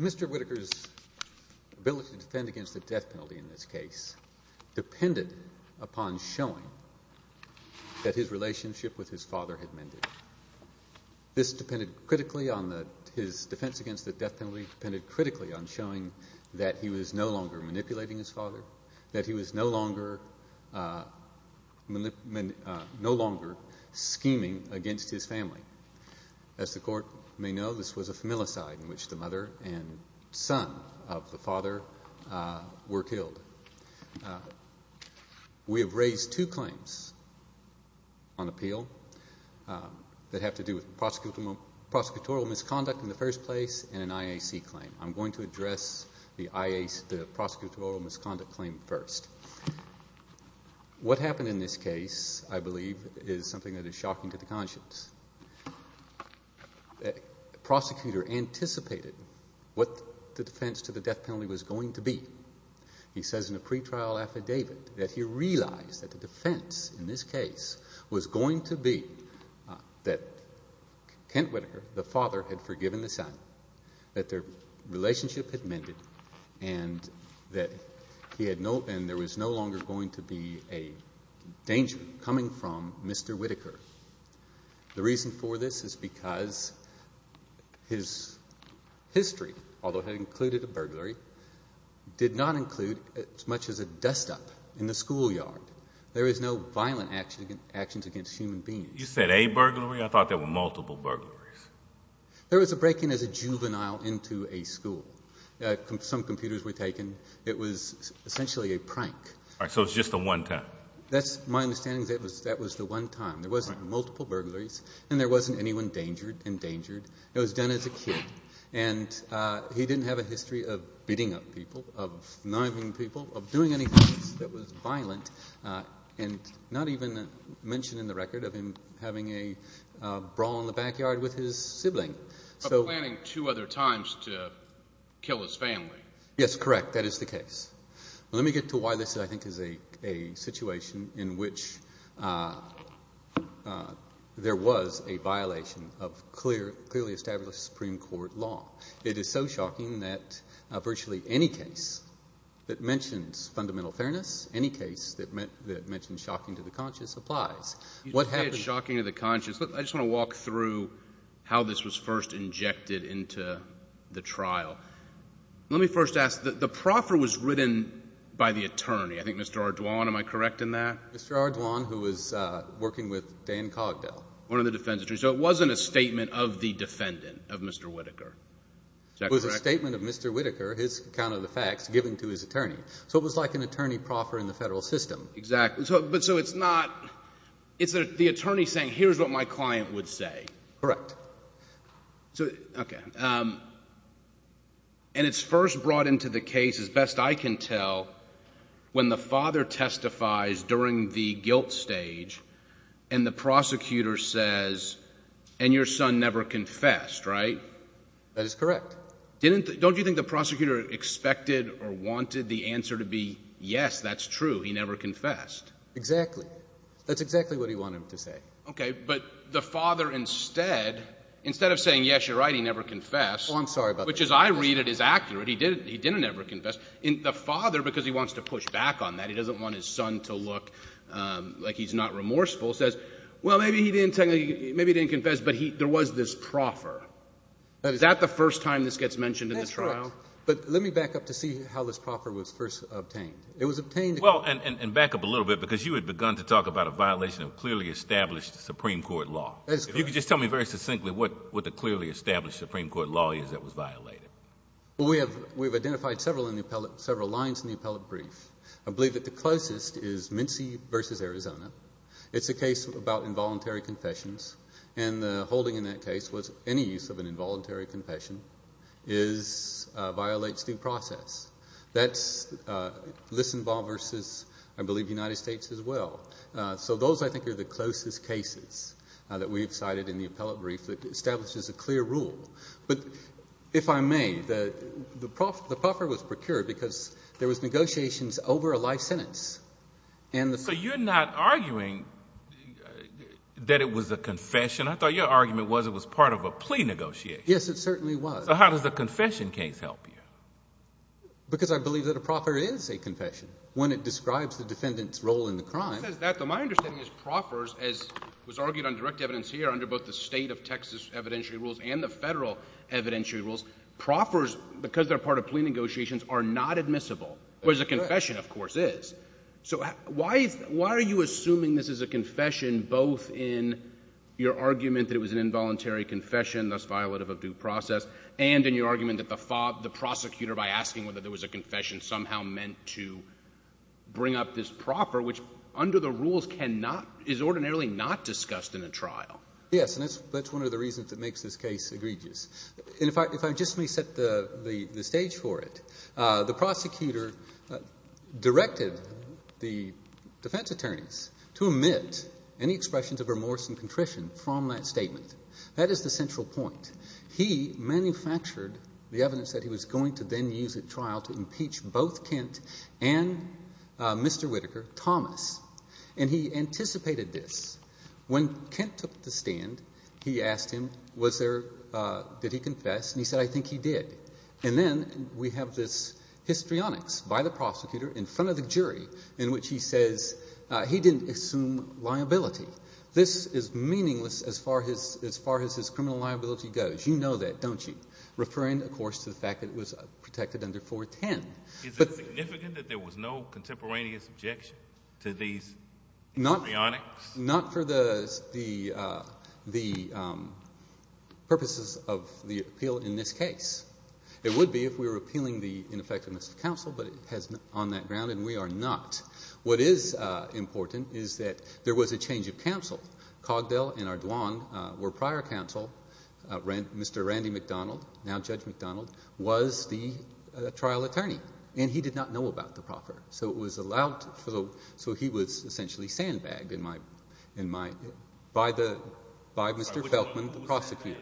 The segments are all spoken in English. Mr. Whitaker's ability to defend against the death penalty in this case depended upon showing that his relationship with his father had mended. This depended critically on his defense against the death penalty depended critically on showing that he was no longer manipulating his father, that he was no longer scheming against his family. As the court may know, this was a familicide in which the mother and son of the father were killed. We have raised two claims on appeal that have to do with prosecutorial misconduct in the first place and an IAC claim. I'm going to address the prosecutorial misconduct claim first. What happened in this case, I believe, is something that is shocking to the conscience. The prosecutor anticipated what the defense to the death penalty was going to be. He says in a pretrial affidavit that he realized that the defense in this case was going to be that Kent Whitaker, the father, had forgiven the son, that their relationship had mended, and that there was no longer going to be a danger coming from Mr. Whitaker. The reason for this is because his history, although it had included a burglary, did not include as much as a dust-up in the schoolyard. There is no violent actions against human beings. You said a burglary? I thought there were multiple burglaries. There was a break-in as a juvenile into a school. Some computers were taken. It was essentially a prank. All right, so it was just the one time. That's my understanding. That was the one time. There wasn't multiple burglaries, and there wasn't anyone endangered. It was done as a kid, and he didn't have a history of beating up people, of knifing people, of doing anything that was violent, and not even mention in the record of him having a brawl in the backyard with his sibling. Planning two other times to kill his family. Yes, correct. That is the case. Let me get to why this, I think, is a situation in which there was a violation of clearly established Supreme Court law. It is so shocking that virtually any case that mentions fundamental fairness, any case that mentions shocking to the conscious, applies. You say it's shocking to the conscious. I just want to walk through how this was first injected into the trial. Let me first ask. The proffer was written by the attorney, I think Mr. Ardoin. Am I correct in that? Mr. Ardoin, who was working with Dan Cogdell. One of the defense attorneys. So it wasn't a statement of the defendant, of Mr. Whitaker. Is that correct? It was a statement of Mr. Whitaker, his account of the facts, given to his attorney. So it was like an attorney proffer in the federal system. Exactly. But so it's not, it's the attorney saying, here's what my client would say. Correct. Okay. And it's first brought into the case, as best I can tell, when the father testifies during the guilt stage and the prosecutor says, and your son never confessed, right? That is correct. Don't you think the prosecutor expected or wanted the answer to be, yes, that's true, he never confessed? Exactly. That's exactly what he wanted him to say. Okay. But the father instead, instead of saying, yes, you're right, he never confessed. Oh, I'm sorry about that. Which, as I read it, is accurate. He didn't never confess. The father, because he wants to push back on that, he doesn't want his son to look like he's not remorseful, says, well, maybe he didn't confess, but there was this proffer. Is that the first time this gets mentioned in the trial? That's correct. But let me back up to see how this proffer was first obtained. Well, and back up a little bit because you had begun to talk about a violation of clearly established Supreme Court law. That is correct. If you could just tell me very succinctly what the clearly established Supreme Court law is that was violated. Well, we've identified several lines in the appellate brief. I believe that the closest is Mincie v. Arizona. It's a case about involuntary confessions, and the holding in that case was any use of an involuntary confession violates due process. That's Lissenbaugh v. I believe the United States as well. So those, I think, are the closest cases that we've cited in the appellate brief that establishes a clear rule. But if I may, the proffer was procured because there was negotiations over a life sentence. So you're not arguing that it was a confession? I thought your argument was it was part of a plea negotiation. Yes, it certainly was. How does a confession case help you? Because I believe that a proffer is a confession when it describes the defendant's role in the crime. It says that, though my understanding is proffers, as was argued on direct evidence here under both the state of Texas evidentiary rules and the federal evidentiary rules, proffers, because they're part of plea negotiations, are not admissible, whereas a confession, of course, is. So why are you assuming this is a confession both in your argument that it was an involuntary confession, thus violative of due process, and in your argument that the prosecutor, by asking whether there was a confession, somehow meant to bring up this proffer, which under the rules is ordinarily not discussed in a trial? Yes, and that's one of the reasons that makes this case egregious. In fact, if I just may set the stage for it, the prosecutor directed the defense attorneys to omit any expressions of remorse and contrition from that statement. That is the central point. He manufactured the evidence that he was going to then use at trial to impeach both Kent and Mr. Whitaker, Thomas, and he anticipated this. When Kent took the stand, he asked him, was there, did he confess, and he said, I think he did. And then we have this histrionics by the prosecutor in front of the jury in which he says he didn't assume liability. This is meaningless as far as his criminal liability goes. You know that, don't you, referring, of course, to the fact that it was protected under 410. Is it significant that there was no contemporaneous objection to these histrionics? Not for the purposes of the appeal in this case. It would be if we were appealing the ineffectiveness of counsel, but it has on that ground, and we are not. What is important is that there was a change of counsel. Cogdell and Ardoin were prior counsel. Mr. Randy McDonald, now Judge McDonald, was the trial attorney, and he did not know about the proffer. So he was essentially sandbagged by Mr. Felkman, the prosecutor,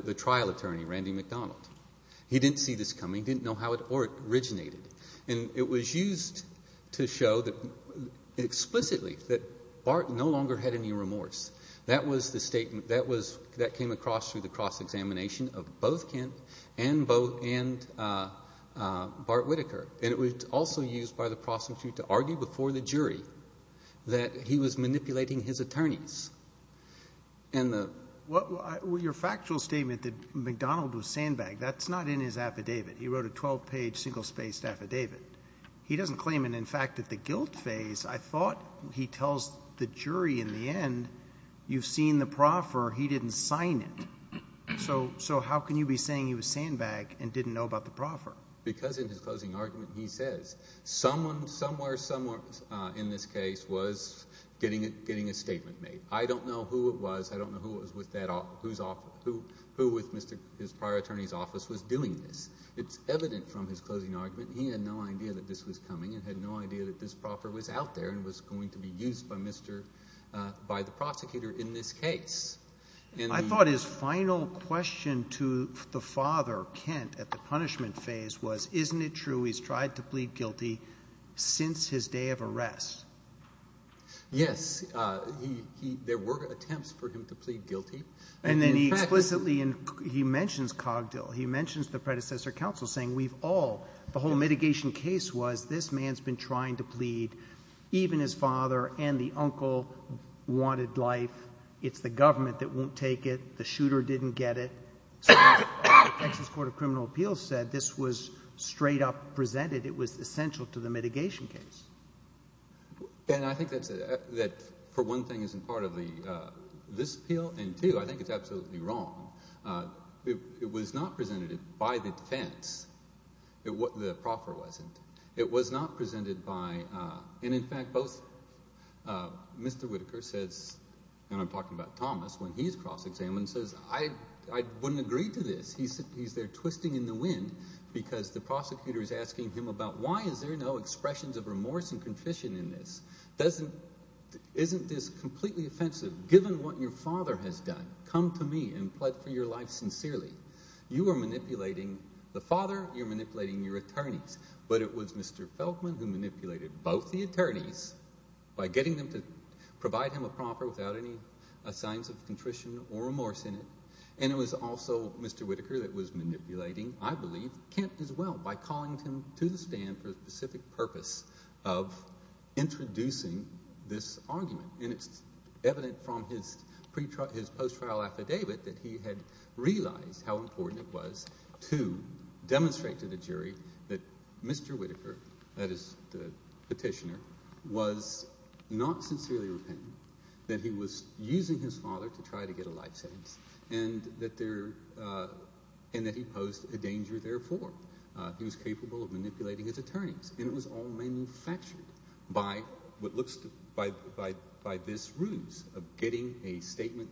the trial attorney, Randy McDonald. He didn't see this coming. He didn't know how it originated. And it was used to show explicitly that Bart no longer had any remorse. That was the statement that came across through the cross-examination of both Kent and Bart Whitaker. And it was also used by the prosecutor to argue before the jury that he was manipulating his attorneys. Your factual statement that McDonald was sandbagged, that's not in his affidavit. He wrote a 12-page, single-spaced affidavit. He doesn't claim it. In fact, at the guilt phase, I thought he tells the jury in the end, you've seen the proffer. He didn't sign it. So how can you be saying he was sandbagged and didn't know about the proffer? Because in his closing argument, he says someone, somewhere, somewhere in this case was getting a statement made. I don't know who it was. I don't know who with his prior attorney's office was doing this. It's evident from his closing argument. He had no idea that this was coming and had no idea that this proffer was out there and was going to be used by the prosecutor in this case. I thought his final question to the father, Kent, at the punishment phase was, isn't it true he's tried to plead guilty since his day of arrest? Yes. There were attempts for him to plead guilty. And then he explicitly mentions Cogdill. He mentions the predecessor counsel saying we've all, the whole mitigation case was this man's been trying to plead. Even his father and the uncle wanted life. It's the government that won't take it. The shooter didn't get it. The Texas Court of Criminal Appeals said this was straight up presented. It was essential to the mitigation case. And I think that, for one thing, isn't part of this appeal, and, two, I think it's absolutely wrong. It was not presented by the defense. The proffer wasn't. It was not presented by – And, in fact, both Mr. Whitaker says, and I'm talking about Thomas when he's cross-examined, says, I wouldn't agree to this. He's there twisting in the wind because the prosecutor is asking him about why is there no expressions of remorse and confession in this? Isn't this completely offensive? Given what your father has done, come to me and plead for your life sincerely. You are manipulating the father. You're manipulating your attorneys. But it was Mr. Feldman who manipulated both the attorneys by getting them to provide him a proffer without any signs of contrition or remorse in it, and it was also Mr. Whitaker that was manipulating, I believe, Kent as well by calling him to the stand for a specific purpose of introducing this argument. And it's evident from his post-trial affidavit that he had realized how important it was to demonstrate to the jury that Mr. Whitaker, that is the petitioner, was not sincerely repentant, that he was using his father to try to get a life sentence, and that he posed a danger therefore. He was capable of manipulating his attorneys, and it was all manufactured by this ruse of getting a statement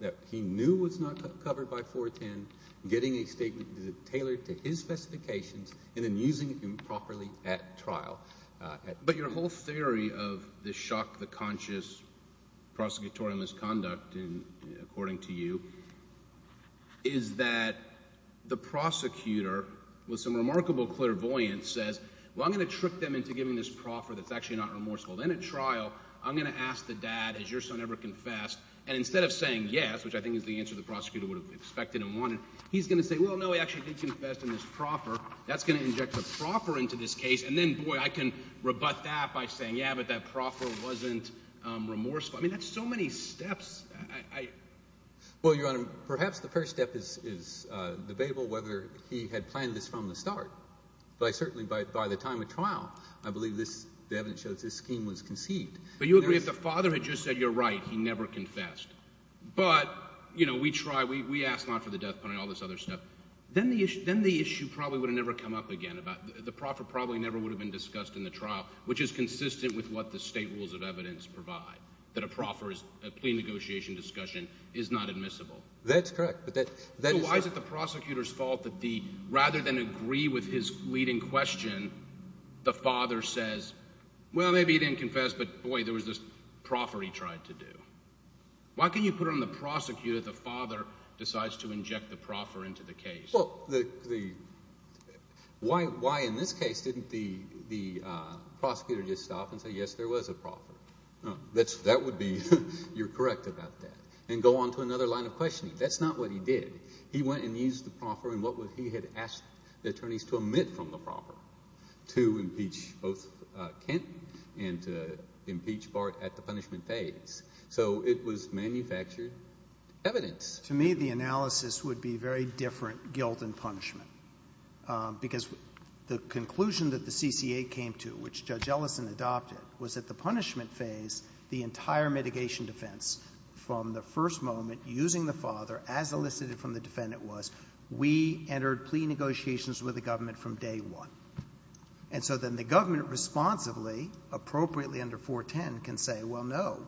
that he knew was not covered by 410, getting a statement tailored to his specifications, and then using him properly at trial. But your whole theory of the shock, the conscious prosecutorial misconduct, according to you, is that the prosecutor, with some remarkable clairvoyance, says, well, I'm going to trick them into giving this proffer that's actually not remorseful. Then at trial I'm going to ask the dad, has your son ever confessed? And instead of saying yes, which I think is the answer the prosecutor would have expected and wanted, he's going to say, well, no, he actually did confess in this proffer. That's going to inject the proffer into this case. And then, boy, I can rebut that by saying, yeah, but that proffer wasn't remorseful. I mean that's so many steps. Well, Your Honor, perhaps the first step is debatable whether he had planned this from the start. But I certainly, by the time of trial, I believe the evidence shows this scheme was conceived. But you agree if the father had just said you're right, he never confessed, but we try. We ask not for the death penalty and all this other stuff. Then the issue probably would have never come up again about the proffer probably never would have been discussed in the trial, which is consistent with what the state rules of evidence provide, that a proffer is a plea negotiation discussion is not admissible. That's correct. So why is it the prosecutor's fault that the rather than agree with his leading question, the father says, well, maybe he didn't confess, but, boy, there was this proffer he tried to do. Why can you put it on the prosecutor that the father decides to inject the proffer into the case? Well, the – why in this case didn't the prosecutor just stop and say, yes, there was a proffer? That would be – you're correct about that. And go on to another line of questioning. That's not what he did. He went and used the proffer and what he had asked the attorneys to omit from the proffer, to impeach both Kent and to impeach Bart at the punishment phase. So it was manufactured evidence. To me, the analysis would be very different guilt and punishment because the conclusion that the CCA came to, which Judge Ellison adopted, was that the punishment phase, the entire mitigation defense from the first moment, using the father as elicited from the defendant was we entered plea negotiations with the government from day one. And so then the government responsibly, appropriately under 410, can say, well, no,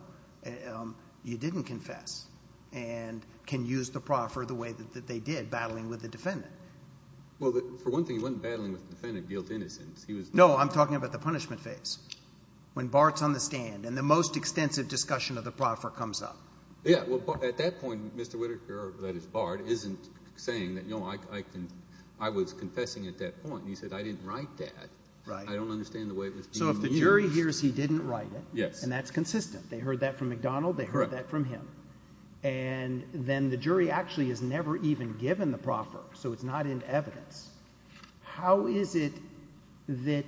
you didn't confess, and can use the proffer the way that they did, battling with the defendant. Well, for one thing, he wasn't battling with the defendant of guilt and innocence. He was – No, I'm talking about the punishment phase when Bart's on the stand and the most extensive discussion of the proffer comes up. Yeah. Well, at that point, Mr. Whitaker, that is, Bart, isn't saying that, no, I was confessing at that point. He said I didn't write that. Right. I don't understand the way it was being used. So if the jury hears he didn't write it – Yes. – and that's consistent. They heard that from McDonald. They heard that from him. And then the jury actually is never even given the proffer, so it's not in evidence. How is it that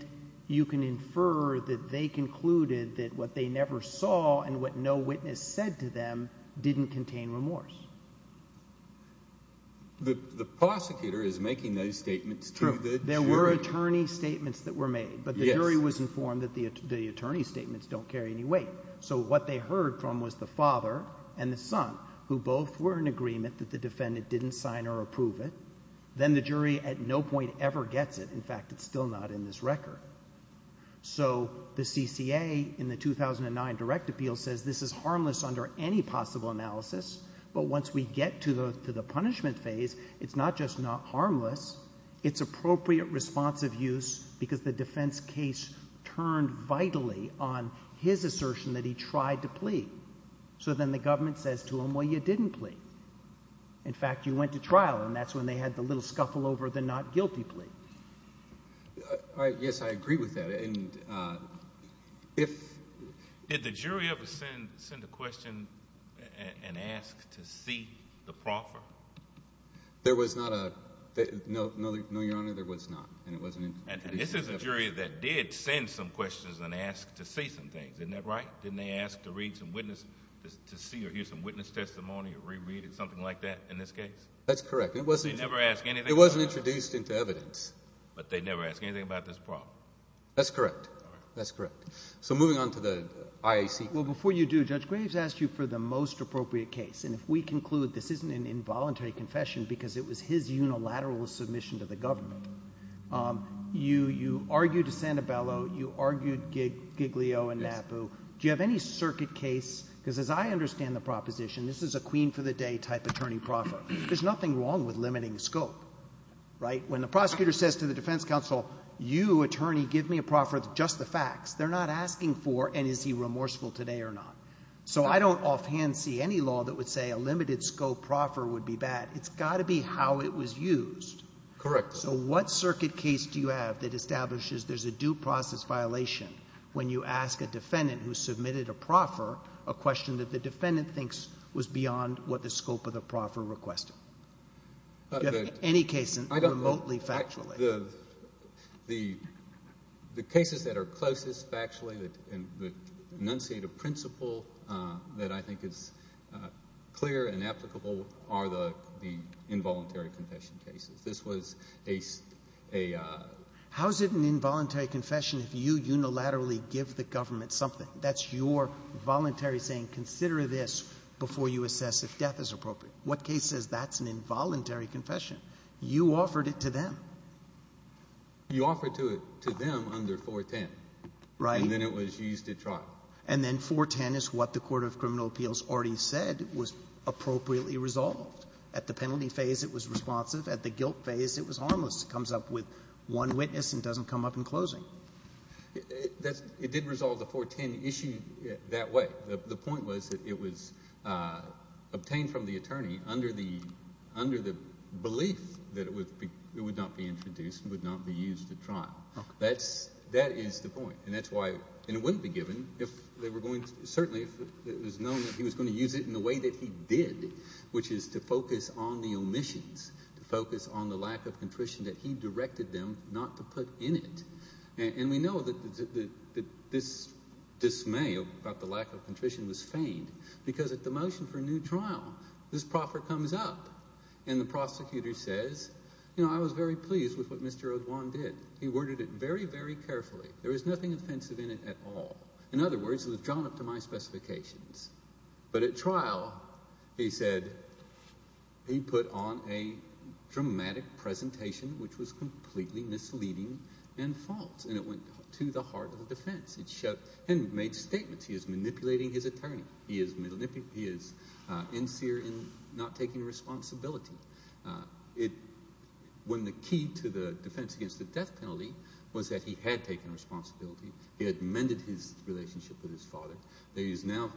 you can infer that they concluded that what they never saw and what no witness said to them didn't contain remorse? The prosecutor is making those statements to the jury. There were attorney statements that were made. Yes. But the jury was informed that the attorney statements don't carry any weight. So what they heard from was the father and the son, who both were in agreement that the defendant didn't sign or approve it. Then the jury at no point ever gets it. In fact, it's still not in this record. So the CCA in the 2009 direct appeal says this is harmless under any possible analysis, but once we get to the punishment phase, it's not just not harmless, it's appropriate responsive use because the defense case turned vitally on his assertion that he tried to plead. So then the government says to him, well, you didn't plead. In fact, you went to trial, and that's when they had the little scuffle over the not guilty plea. Yes, I agree with that. Did the jury ever send a question and ask to see the proffer? There was not a—no, Your Honor, there was not, and it wasn't in— And this is a jury that did send some questions and ask to see some things. Isn't that right? Didn't they ask to read some witness—to see or hear some witness testimony or reread it, something like that in this case? That's correct. They never ask anything about it? It wasn't introduced into evidence. But they never ask anything about this proffer? That's correct. All right. That's correct. So moving on to the IAC case. Well, before you do, Judge Graves asked you for the most appropriate case, and if we conclude this isn't an involuntary confession because it was his unilateral submission to the government, you argued to Sanibello, you argued Giglio and Napu. Do you have any circuit case? Because as I understand the proposition, this is a queen for the day type attorney proffer. There's nothing wrong with limiting scope, right? When the prosecutor says to the defense counsel, you, attorney, give me a proffer of just the facts, they're not asking for and is he remorseful today or not. So I don't offhand see any law that would say a limited scope proffer would be bad. It's got to be how it was used. Correct. So what circuit case do you have that establishes there's a due process violation when you ask a defendant who submitted a proffer a question that the defendant thinks was beyond what the scope of the proffer requested? Do you have any case remotely factually? The cases that are closest factually and enunciate a principle that I think is clear and applicable are the involuntary confession cases. How is it an involuntary confession if you unilaterally give the government something? That's your voluntary saying, consider this before you assess if death is appropriate. What case says that's an involuntary confession? You offered it to them. You offered to them under 410. Right. And then it was used at trial. And then 410 is what the Court of Criminal Appeals already said was appropriately resolved. At the penalty phase it was responsive. At the guilt phase it was harmless. It comes up with one witness and doesn't come up in closing. It did resolve the 410 issue that way. The point was that it was obtained from the attorney under the belief that it would not be introduced, would not be used at trial. That is the point. And it wouldn't be given if they were going to certainly if it was known that he was going to use it in the way that he did, which is to focus on the omissions, to focus on the lack of contrition that he directed them not to put in it. And we know that this dismay about the lack of contrition was feigned because at the motion for a new trial this proffer comes up and the prosecutor says, you know, I was very pleased with what Mr. O'Dwan did. He worded it very, very carefully. There was nothing offensive in it at all. In other words, it was drawn up to my specifications. But at trial he said he put on a dramatic presentation which was completely misleading and false, and it went to the heart of the defense. It made statements. He is manipulating his attorney. He is inseer in not taking responsibility. When the key to the defense against the death penalty was that he had taken responsibility, he had mended his relationship with his father, that he has now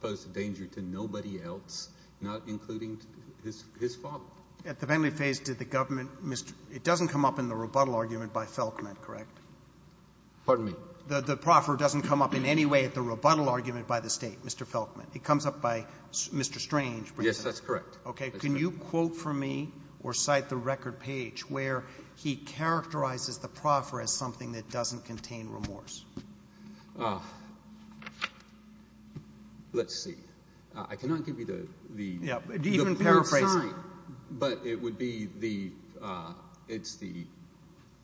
posed a danger to nobody else, not including his father. At the family phase, did the government, it doesn't come up in the rebuttal argument by Felkman, correct? Pardon me? The proffer doesn't come up in any way at the rebuttal argument by the State, Mr. Felkman. It comes up by Mr. Strange. Yes, that's correct. Can you quote for me or cite the record page where he characterizes the proffer as something that doesn't contain remorse? Let's see. I cannot give you the sign, but it would be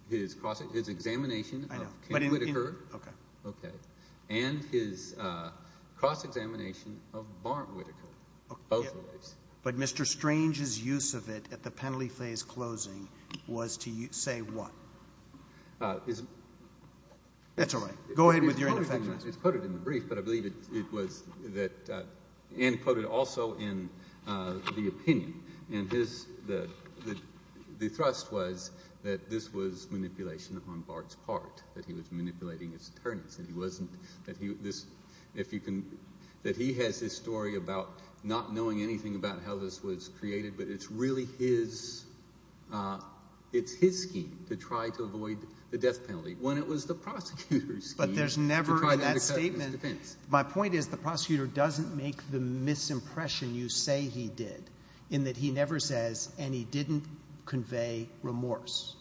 his examination of King Whittaker and his cross-examination of Barnt Whittaker, both of those. But Mr. Strange's use of it at the penalty phase closing was to say what? That's all right. Go ahead with your ineffectiveness. It's quoted in the brief, but I believe it was that Anne quoted also in the opinion. And the thrust was that this was manipulation on Bard's part, that he was manipulating his attorneys. That he has his story about not knowing anything about how this was created, but it's really his scheme to try to avoid the death penalty when it was the prosecutor's scheme. But there's never in that statement – my point is the prosecutor doesn't make the misimpression you say he did in that he never says and he didn't convey remorse.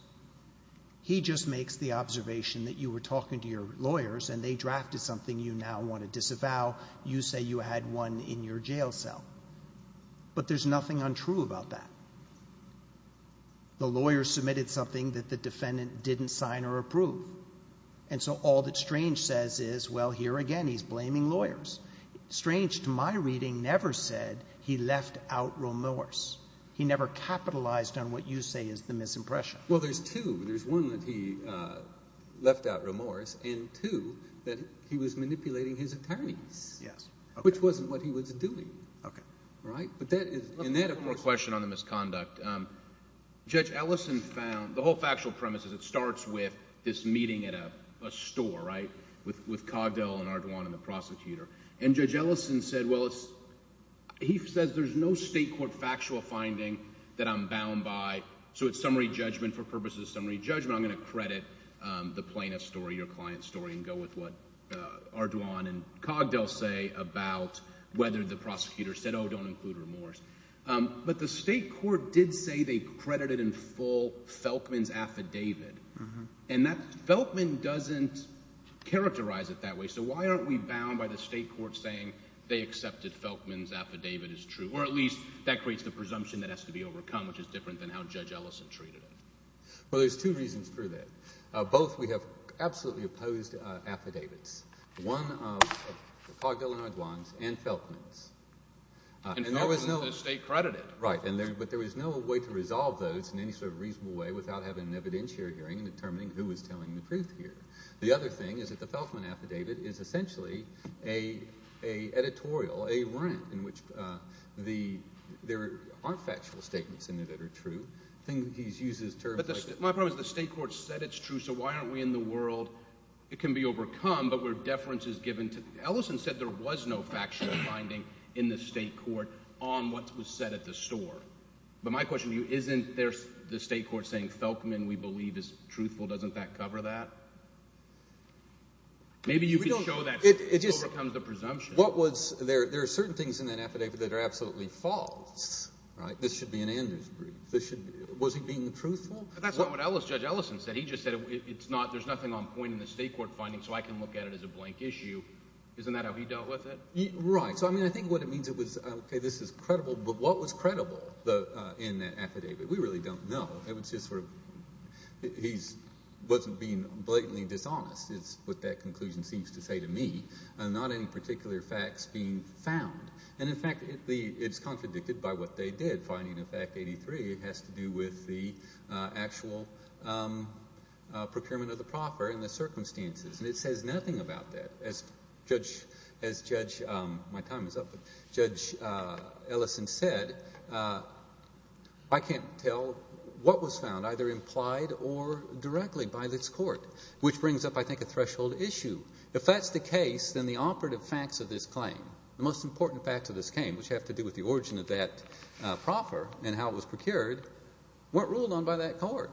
He just makes the observation that you were talking to your lawyers and they drafted something you now want to disavow. You say you had one in your jail cell. But there's nothing untrue about that. The lawyer submitted something that the defendant didn't sign or approve. And so all that Strange says is, well, here again he's blaming lawyers. Strange to my reading never said he left out remorse. He never capitalized on what you say is the misimpression. Well, there's two. There's one that he left out remorse, and two that he was manipulating his attorneys, which wasn't what he was doing. Okay. Right? And that of course – One more question on the misconduct. Judge Ellison found – the whole factual premise is it starts with this meeting at a store, right, with Cogdell and Ardoin and the prosecutor. And Judge Ellison said, well, he says there's no state court factual finding that I'm bound by. So it's summary judgment for purposes of summary judgment. I'm going to credit the plaintiff's story, your client's story, and go with what Ardoin and Cogdell say about whether the prosecutor said, oh, don't include remorse. But the state court did say they credited in full Felkman's affidavit. And that – Felkman doesn't characterize it that way. So why aren't we bound by the state court saying they accepted Felkman's affidavit as true? Or at least that creates the presumption that has to be overcome, which is different than how Judge Ellison treated it. Well, there's two reasons for that. Both we have absolutely opposed affidavits, one of Cogdell and Ardoin's and Felkman's. And Felkman's the state credited. Right. But there was no way to resolve those in any sort of reasonable way without having an evidentiary hearing and determining who was telling the truth here. The other thing is that the Felkman affidavit is essentially an editorial, a rant in which the – there aren't factual statements in it that are true. I think he uses terms like – But my point is the state court said it's true, so why aren't we in the world – it can be overcome, but where deference is given to – Ellison said there was no factual finding in the state court on what was said at the store. But my question to you, isn't the state court saying Felkman, we believe, is truthful? Doesn't that cover that? Maybe you can show that it overcomes the presumption. What was – there are certain things in that affidavit that are absolutely false. This should be in Andrew's brief. Was he being truthful? That's not what Judge Ellison said. He just said it's not – there's nothing on point in the state court finding, so I can look at it as a blank issue. Isn't that how he dealt with it? Right. So, I mean, I think what it means it was – okay, this is credible, but what was credible in that affidavit? We really don't know. It was just sort of – he wasn't being blatantly dishonest is what that conclusion seems to say to me. Not any particular facts being found. And, in fact, it's contradicted by what they did. Finding of fact 83 has to do with the actual procurement of the proffer and the circumstances. And it says nothing about that. As Judge Ellison said, I can't tell what was found either implied or directly by this court, which brings up, I think, a threshold issue. If that's the case, then the operative facts of this claim, the most important facts of this claim, which have to do with the origin of that proffer and how it was procured, weren't ruled on by that court.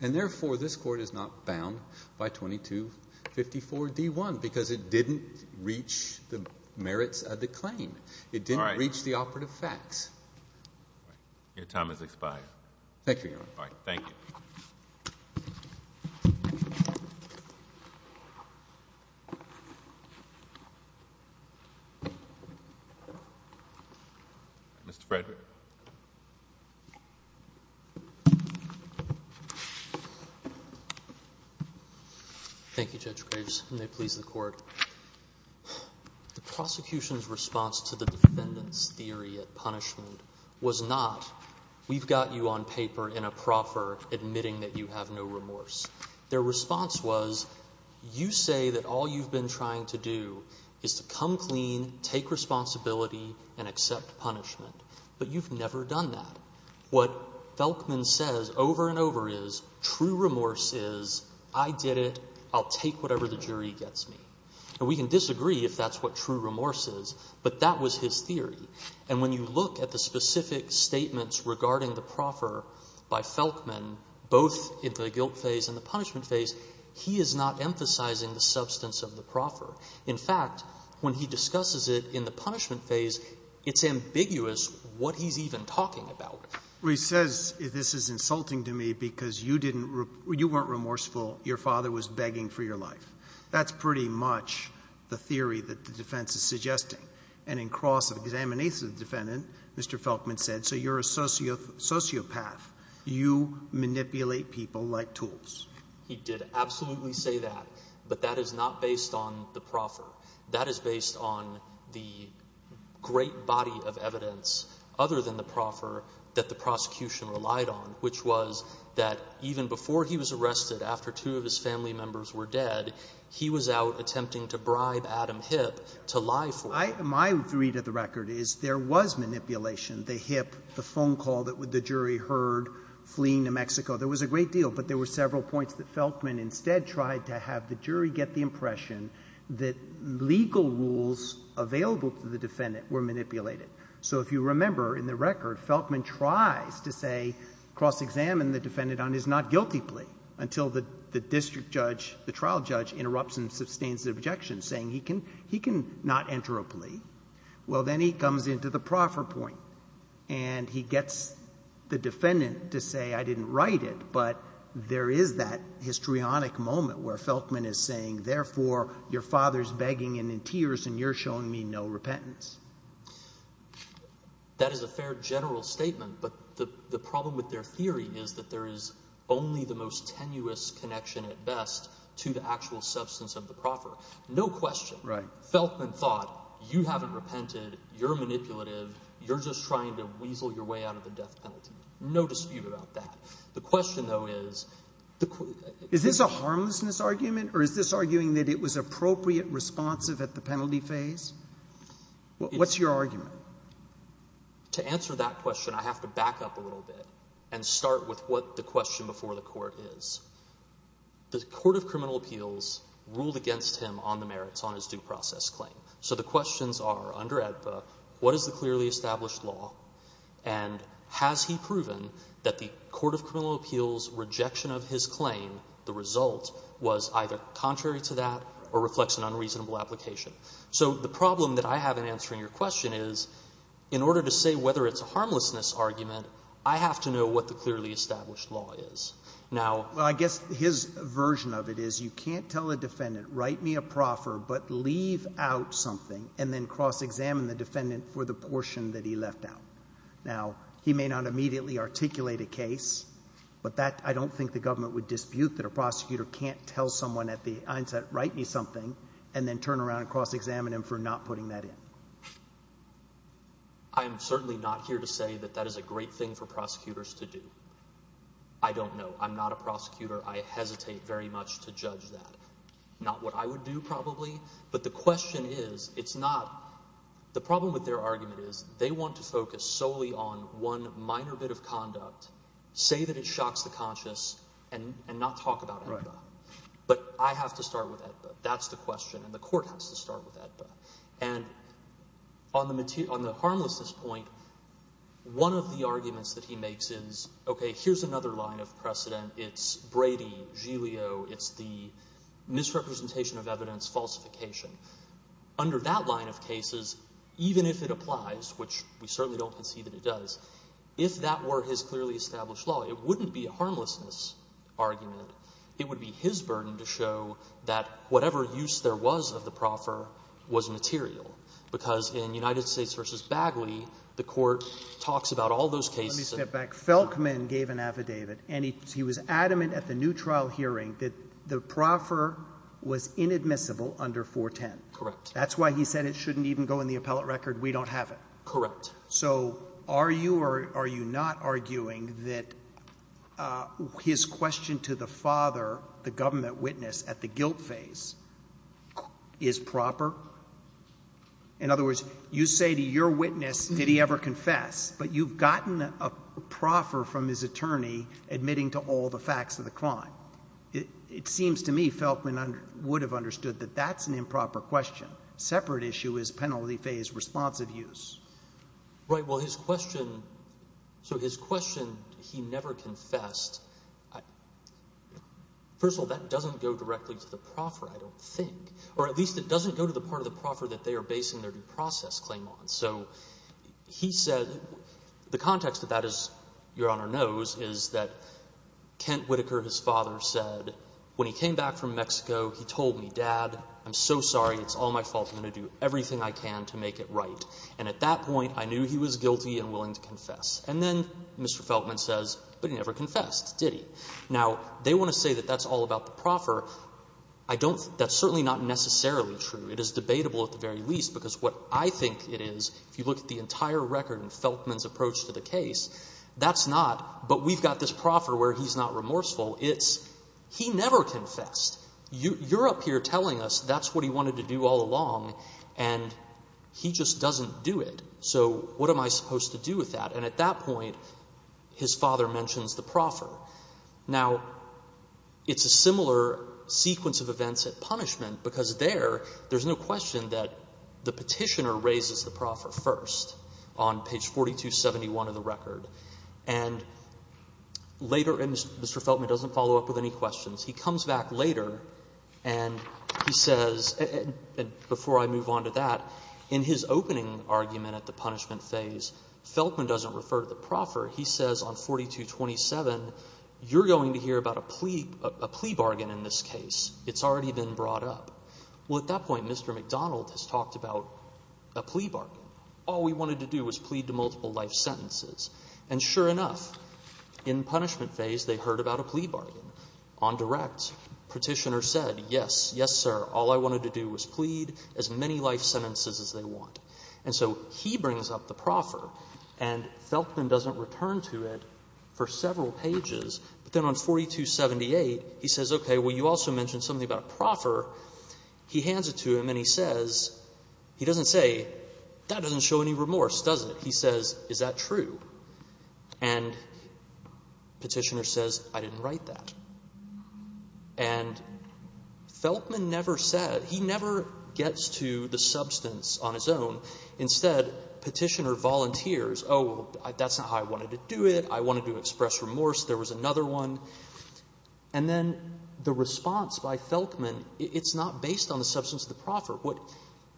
And, therefore, this court is not bound by 2254D1 because it didn't reach the merits of the claim. It didn't reach the operative facts. Your time has expired. Thank you, Your Honor. All right. Thank you. Mr. Frederick. Thank you, Judge Graves, and may it please the Court. The prosecution's response to the defendant's theory of punishment was not, we've got you on paper in a proffer admitting that you have no remorse. Their response was, you say that all you've been trying to do is to come clean, take responsibility, and accept punishment. But you've never done that. What Felkman says over and over is, true remorse is, I did it, I'll take whatever the jury gets me. And we can disagree if that's what true remorse is, but that was his theory. And when you look at the specific statements regarding the proffer by Felkman, both in the guilt phase and the punishment phase, he is not emphasizing the substance of the proffer. In fact, when he discusses it in the punishment phase, it's ambiguous what he's even talking about. Well, he says, this is insulting to me because you weren't remorseful. Your father was begging for your life. That's pretty much the theory that the defense is suggesting. And in cross examination of the defendant, Mr. Felkman said, so you're a sociopath. You manipulate people like tools. He did absolutely say that. But that is not based on the proffer. That is based on the great body of evidence other than the proffer that the prosecution relied on, which was that even before he was arrested, after two of his family members were dead, he was out attempting to bribe Adam Hipp to lie for him. My read of the record is there was manipulation. The Hipp, the phone call that the jury heard fleeing to Mexico, there was a great deal. But there were several points that Felkman instead tried to have the jury get the impression that legal rules available to the defendant were manipulated. So if you remember in the record, Felkman tries to say, cross examine the defendant on his not guilty plea until the district judge, the trial judge, interrupts and sustains the objection saying he can not enter a plea. Well, then he comes into the proffer point and he gets the defendant to say, I didn't write it, but there is that histrionic moment where Felkman is saying, therefore, your father is begging and in tears and you're showing me no repentance. That is a fair general statement, but the problem with their theory is that there is only the most tenuous connection at best to the actual substance of the proffer. No question Felkman thought you haven't repented, you're manipulative, you're just trying to weasel your way out of the death penalty. No dispute about that. The question, though, is, is this a harmlessness argument or is this arguing that it was appropriate, responsive at the penalty phase? What's your argument? To answer that question, I have to back up a little bit and start with what the question before the court is. The court of criminal appeals ruled against him on the merits on his due process claim. So the questions are, under AEDPA, what is the clearly established law and has he proven that the court of criminal appeals' rejection of his claim, the result, was either contrary to that or reflects an unreasonable application? So the problem that I have in answering your question is, in order to say whether it's a harmlessness argument, I have to know what the clearly established law is. Now— Well, I guess his version of it is you can't tell a defendant, write me a proffer, but leave out something and then cross-examine the defendant for the portion that he left out. Now, he may not immediately articulate a case, but that, I don't think the government would dispute that a prosecutor can't tell someone at the onset, write me something, and then turn around and cross-examine him for not putting that in. I am certainly not here to say that that is a great thing for prosecutors to do. I don't know. I'm not a prosecutor. I hesitate very much to judge that. Not what I would do, probably. But the question is, it's not—the problem with their argument is they want to focus solely on one minor bit of conduct, say that it shocks the conscious, and not talk about EDBA. But I have to start with EDBA. That's the question, and the court has to start with EDBA. And on the harmlessness point, one of the arguments that he makes is, okay, here's another line of precedent. It's Brady, Giglio. It's the misrepresentation of evidence, falsification. Under that line of cases, even if it applies, which we certainly don't concede that it does, if that were his clearly established law, it wouldn't be a harmlessness argument. It would be his burden to show that whatever use there was of the proffer was material, because in United States v. Bagley, the court talks about all those cases— was adamant at the new trial hearing that the proffer was inadmissible under 410. Correct. That's why he said it shouldn't even go in the appellate record. We don't have it. Correct. So are you or are you not arguing that his question to the father, the government witness at the guilt phase, is proper? In other words, you say to your witness, did he ever confess, but you've gotten a proffer from his attorney admitting to all the facts of the crime. It seems to me Felkman would have understood that that's an improper question. Separate issue is penalty phase responsive use. Right. Well, his question—so his question, he never confessed, first of all, that doesn't go directly to the proffer, I don't think. Or at least it doesn't go to the part of the proffer that they are basing their due process claim on. So he said—the context of that, as Your Honor knows, is that Kent Whitaker, his father, said when he came back from Mexico, he told me, Dad, I'm so sorry. It's all my fault. I'm going to do everything I can to make it right. And at that point, I knew he was guilty and willing to confess. And then Mr. Felkman says, but he never confessed, did he? Now, they want to say that that's all about the proffer. I don't—that's certainly not necessarily true. It is debatable at the very least because what I think it is, if you look at the entire record in Felkman's approach to the case, that's not. But we've got this proffer where he's not remorseful. It's he never confessed. You're up here telling us that's what he wanted to do all along, and he just doesn't do it. So what am I supposed to do with that? And at that point, his father mentions the proffer. Now, it's a similar sequence of events at punishment because there, there's no question that the petitioner raises the proffer first on page 4271 of the record. And later—and Mr. Felkman doesn't follow up with any questions. He comes back later, and he says—and before I move on to that, in his opening argument at the punishment phase, Felkman doesn't refer to the proffer. He says on 4227, you're going to hear about a plea bargain in this case. It's already been brought up. Well, at that point, Mr. McDonald has talked about a plea bargain. All we wanted to do was plead to multiple life sentences. And sure enough, in punishment phase, they heard about a plea bargain. On direct, petitioner said, yes, yes, sir, all I wanted to do was plead as many life sentences as they want. And so he brings up the proffer, and Felkman doesn't return to it for several pages. But then on 4278, he says, okay, well, you also mentioned something about a proffer. He hands it to him, and he says—he doesn't say, that doesn't show any remorse, does it? He says, is that true? And petitioner says, I didn't write that. And Felkman never said—he never gets to the substance on his own. Instead, petitioner volunteers, oh, that's not how I wanted to do it. I wanted to express remorse. There was another one. And then the response by Felkman, it's not based on the substance of the proffer.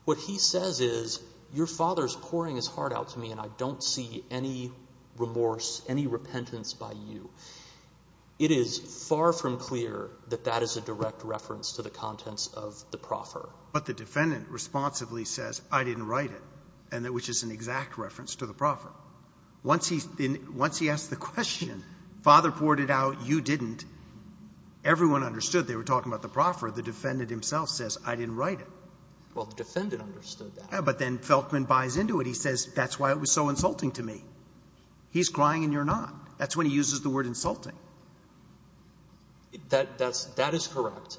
What he says is, your father is pouring his heart out to me, and I don't see any remorse, any repentance by you. It is far from clear that that is a direct reference to the contents of the proffer. But the defendant responsibly says, I didn't write it, which is an exact reference to the proffer. Once he asks the question, father poured it out, you didn't, everyone understood they were talking about the proffer. The defendant himself says, I didn't write it. Well, the defendant understood that. Yeah, but then Felkman buys into it. He says, that's why it was so insulting to me. He's crying, and you're not. That's when he uses the word insulting. That is correct.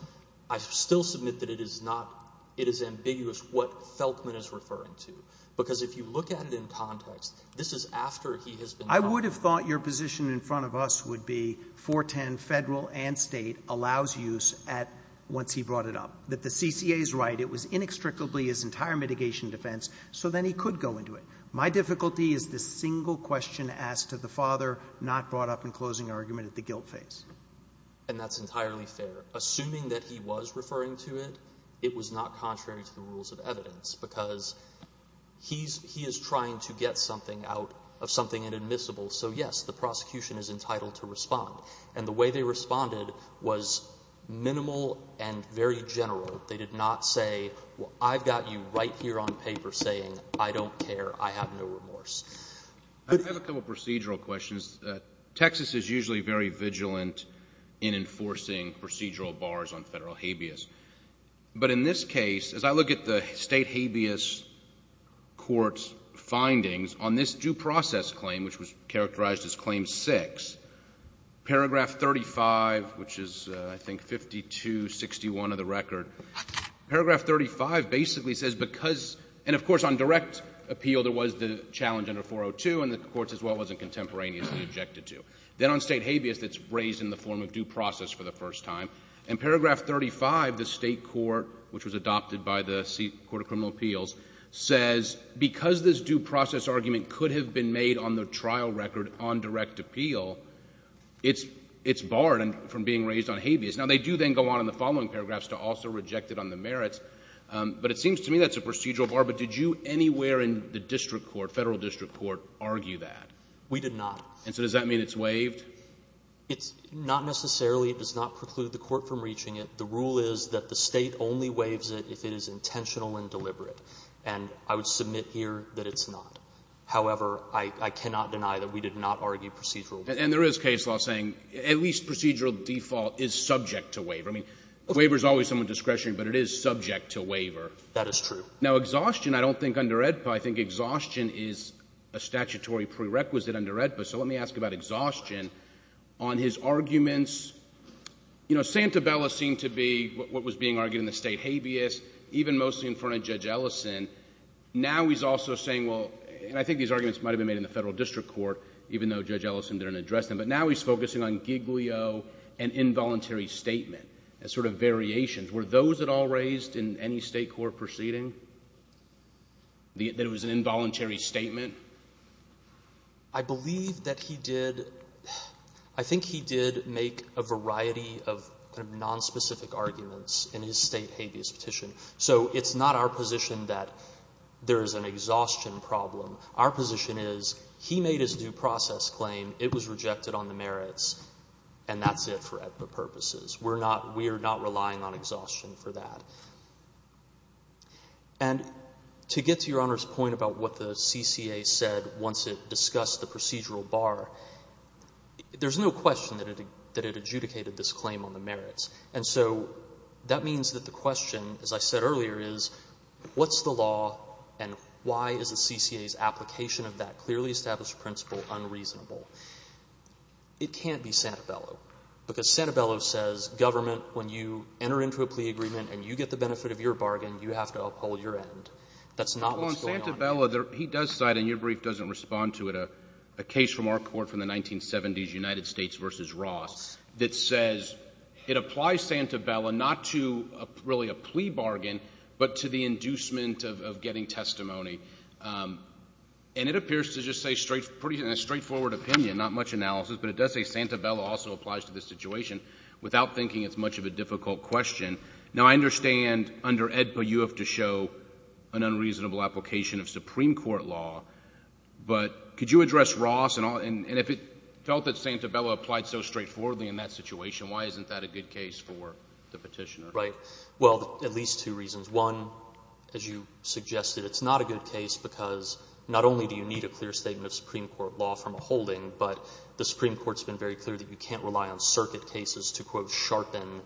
I still submit that it is not, it is ambiguous what Felkman is referring to. Because if you look at it in context, this is after he has been found. I would have thought your position in front of us would be 410, federal and state, allows use once he brought it up. That the CCA is right, it was inextricably his entire mitigation defense, so then he could go into it. My difficulty is the single question asked to the father, not brought up in closing argument at the guilt phase. And that's entirely fair. Assuming that he was referring to it, it was not contrary to the rules of evidence. Because he is trying to get something out of something inadmissible. So, yes, the prosecution is entitled to respond. And the way they responded was minimal and very general. They did not say, well, I've got you right here on paper saying I don't care, I have no remorse. I have a couple procedural questions. Texas is usually very vigilant in enforcing procedural bars on federal habeas. But in this case, as I look at the state habeas court's findings on this due process claim, which was characterized as claim six, paragraph 35, which is I think 5261 of the record. Paragraph 35 basically says because, and of course on direct appeal there was the challenge under 402, and the courts as well wasn't contemporaneously objected to. Then on state habeas, it's raised in the form of due process for the first time. And paragraph 35, the state court, which was adopted by the court of criminal appeals, says because this due process argument could have been made on the trial record on direct appeal, it's barred from being raised on habeas. Now, they do then go on in the following paragraphs to also reject it on the merits. But it seems to me that's a procedural bar. But did you anywhere in the district court, federal district court, argue that? We did not. And so does that mean it's waived? It's not necessarily, it does not preclude the court from reaching it. The rule is that the State only waives it if it is intentional and deliberate. And I would submit here that it's not. However, I cannot deny that we did not argue procedural. And there is case law saying at least procedural default is subject to waiver. I mean, waiver is always somewhat discretionary, but it is subject to waiver. That is true. Now, exhaustion, I don't think under AEDPA, I think exhaustion is a statutory prerequisite under AEDPA. So let me ask about exhaustion. On his arguments, you know, Santabella seemed to be what was being argued in the state habeas, even mostly in front of Judge Ellison. Now he's also saying, well, and I think these arguments might have been made in the federal district court, even though Judge Ellison didn't address them. But now he's focusing on Giglio and involuntary statement as sort of variations. Were those at all raised in any state court proceeding, that it was an involuntary statement? I believe that he did. I think he did make a variety of kind of nonspecific arguments in his state habeas petition. So it's not our position that there is an exhaustion problem. Our position is he made his due process claim. It was rejected on the merits, and that's it for AEDPA purposes. We are not relying on exhaustion for that. And to get to Your Honor's point about what the CCA said once it discussed the procedural bar, there's no question that it adjudicated this claim on the merits. And so that means that the question, as I said earlier, is what's the law, and why is the CCA's application of that clearly established principle unreasonable? It can't be Santabella, because Santabella says government, when you enter into a plea agreement and you get the benefit of your bargain, you have to uphold your end. That's not what's going on here. Well, on Santabella, he does cite, and your brief doesn't respond to it, a case from our court from the 1970s, United States v. Ross, that says it applies Santabella not to really a plea bargain, but to the inducement of getting testimony. And it appears to just say pretty straightforward opinion, not much analysis, but it does say Santabella also applies to this situation without thinking it's much of a difficult question. Now, I understand under AEDPA you have to show an unreasonable application of Supreme Court law, but could you address Ross, and if it felt that Santabella applied so straightforwardly in that situation, why isn't that a good case for the Petitioner? Right. Well, at least two reasons. One, as you suggested, it's not a good case because not only do you need a clear statement of Supreme Court law from a holding, but the Supreme Court's been very clear that you can't rely on circuit cases to, quote, sharpen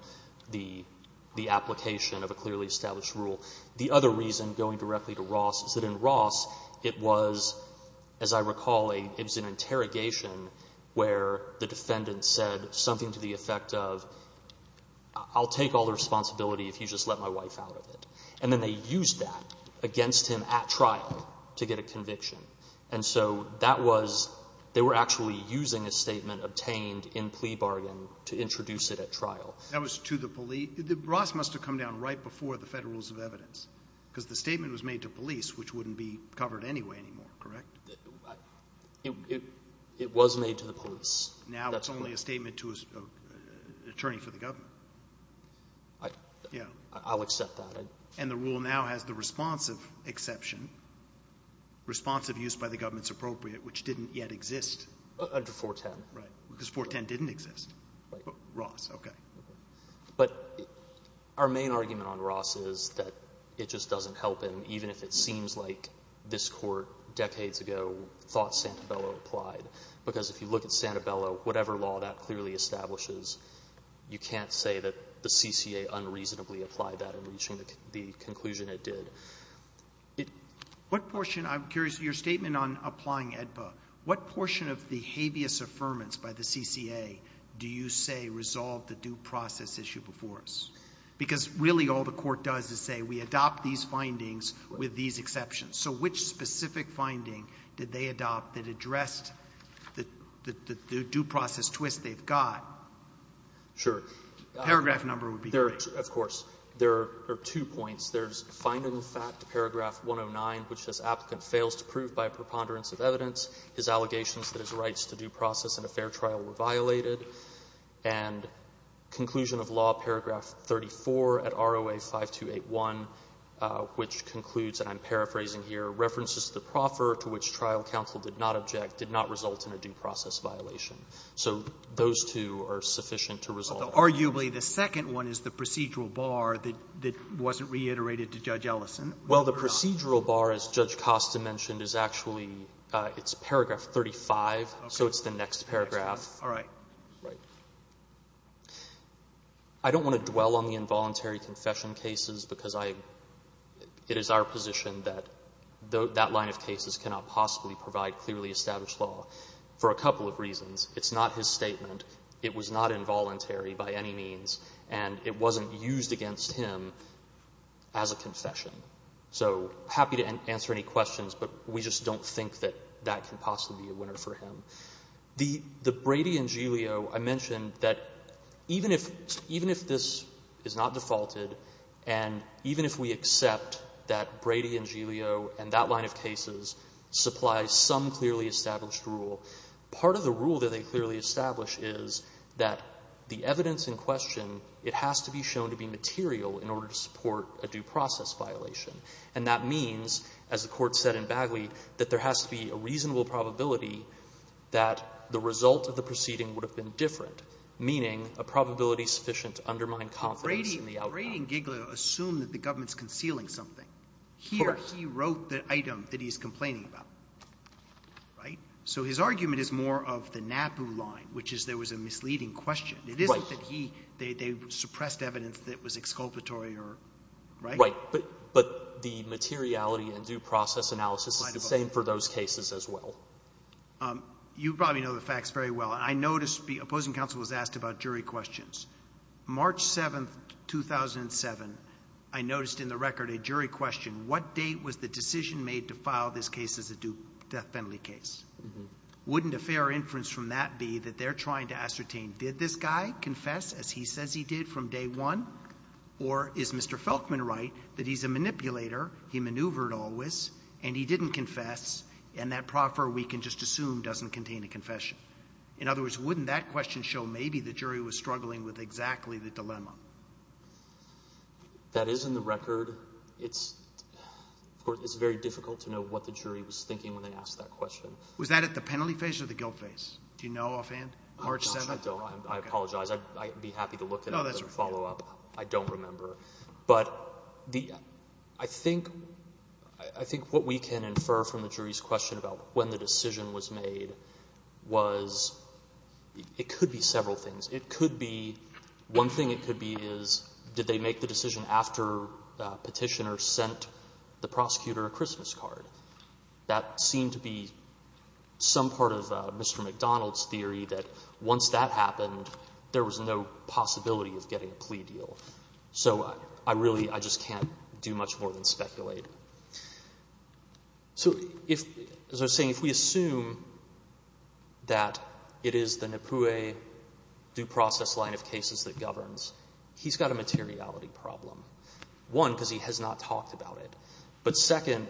the application of a clearly established rule. The other reason, going directly to Ross, is that in Ross it was, as I recall, it was an interrogation where the defendant said something to the effect of, I'll take all the responsibility if you just let my wife out of it. And then they used that against him at trial to get a conviction. And so that was they were actually using a statement obtained in plea bargain to introduce it at trial. That was to the police. Ross must have come down right before the Federal Rules of Evidence because the statement was made to police, which wouldn't be covered anyway anymore, correct? It was made to the police. Now it's only a statement to an attorney for the government. I'll accept that. And the rule now has the responsive exception, responsive use by the government's appropriate, which didn't yet exist. Under 410. Right. Because 410 didn't exist. Right. Ross. Okay. But our main argument on Ross is that it just doesn't help him, even if it seems like this Court decades ago thought Santabello applied. Because if you look at Santabello, whatever law that clearly establishes, you can't say that the CCA unreasonably applied that in reaching the conclusion it did. What portion, I'm curious, your statement on applying AEDPA, what portion of the habeas affirmance by the CCA do you say resolved the due process issue before us? Because really all the Court does is say we adopt these findings with these exceptions. So which specific finding did they adopt that addressed the due process twist they've got? Sure. Paragraph number would be great. Of course. There are two points. There's finding fact paragraph 109, which says, Applicant fails to prove by a preponderance of evidence his allegations that his rights to due process in a fair trial were violated. And conclusion of law paragraph 34 at ROA 5281, which concludes, and I'm paraphrasing here, references to the proffer to which trial counsel did not object did not result in a due process violation. So those two are sufficient to resolve. Arguably, the second one is the procedural bar that wasn't reiterated to Judge Ellison. Well, the procedural bar, as Judge Costa mentioned, is actually, it's paragraph 35. So it's the next paragraph. All right. Right. I don't want to dwell on the involuntary confession cases because it is our position that that line of cases cannot possibly provide clearly established law for a couple of reasons. It's not his statement. It was not involuntary by any means, and it wasn't used against him as a confession. So happy to answer any questions, but we just don't think that that can possibly be a winner for him. The Brady and Giglio, I mentioned that even if this is not defaulted and even if we accept that Brady and Giglio and that line of cases supply some clearly established rule, part of the rule that they clearly establish is that the evidence in question, it has to be shown to be material in order to support a due process violation. And that means, as the Court said in Bagley, that there has to be a reasonable probability that the result of the proceeding would have been different, meaning a probability sufficient to undermine confidence in the outcome. But Brady and Giglio assume that the government is concealing something. Correct. Here he wrote the item that he's complaining about. Right? So his argument is more of the NAPU line, which is there was a misleading question. Right. It isn't that he, they suppressed evidence that was exculpatory or right? Right. But the materiality and due process analysis is the same for those cases as well. You probably know the facts very well. I noticed the opposing counsel was asked about jury questions. March 7, 2007, I noticed in the record a jury question. What date was the decision made to file this case as a due death penalty case? Wouldn't a fair inference from that be that they're trying to ascertain, did this guy confess as he says he did from day one? Or is Mr. Felkman right that he's a manipulator, he maneuvered always, and he didn't confess, and that proffer we can just assume doesn't contain a confession? In other words, wouldn't that question show maybe the jury was struggling with exactly the dilemma? That is in the record. It's very difficult to know what the jury was thinking when they asked that question. Was that at the penalty phase or the guilt phase? Do you know offhand? March 7? I apologize. I'd be happy to look at it as a follow-up. I don't remember. But I think what we can infer from the jury's question about when the decision was made was it could be several things. It could be one thing it could be is did they make the decision after Petitioner sent the prosecutor a Christmas card? That seemed to be some part of Mr. McDonald's theory that once that happened, there was no possibility of getting a plea deal. So I really just can't do much more than speculate. So as I was saying, if we assume that it is the Napue due process line of cases that governs, he's got a materiality problem. One, because he has not talked about it. But second,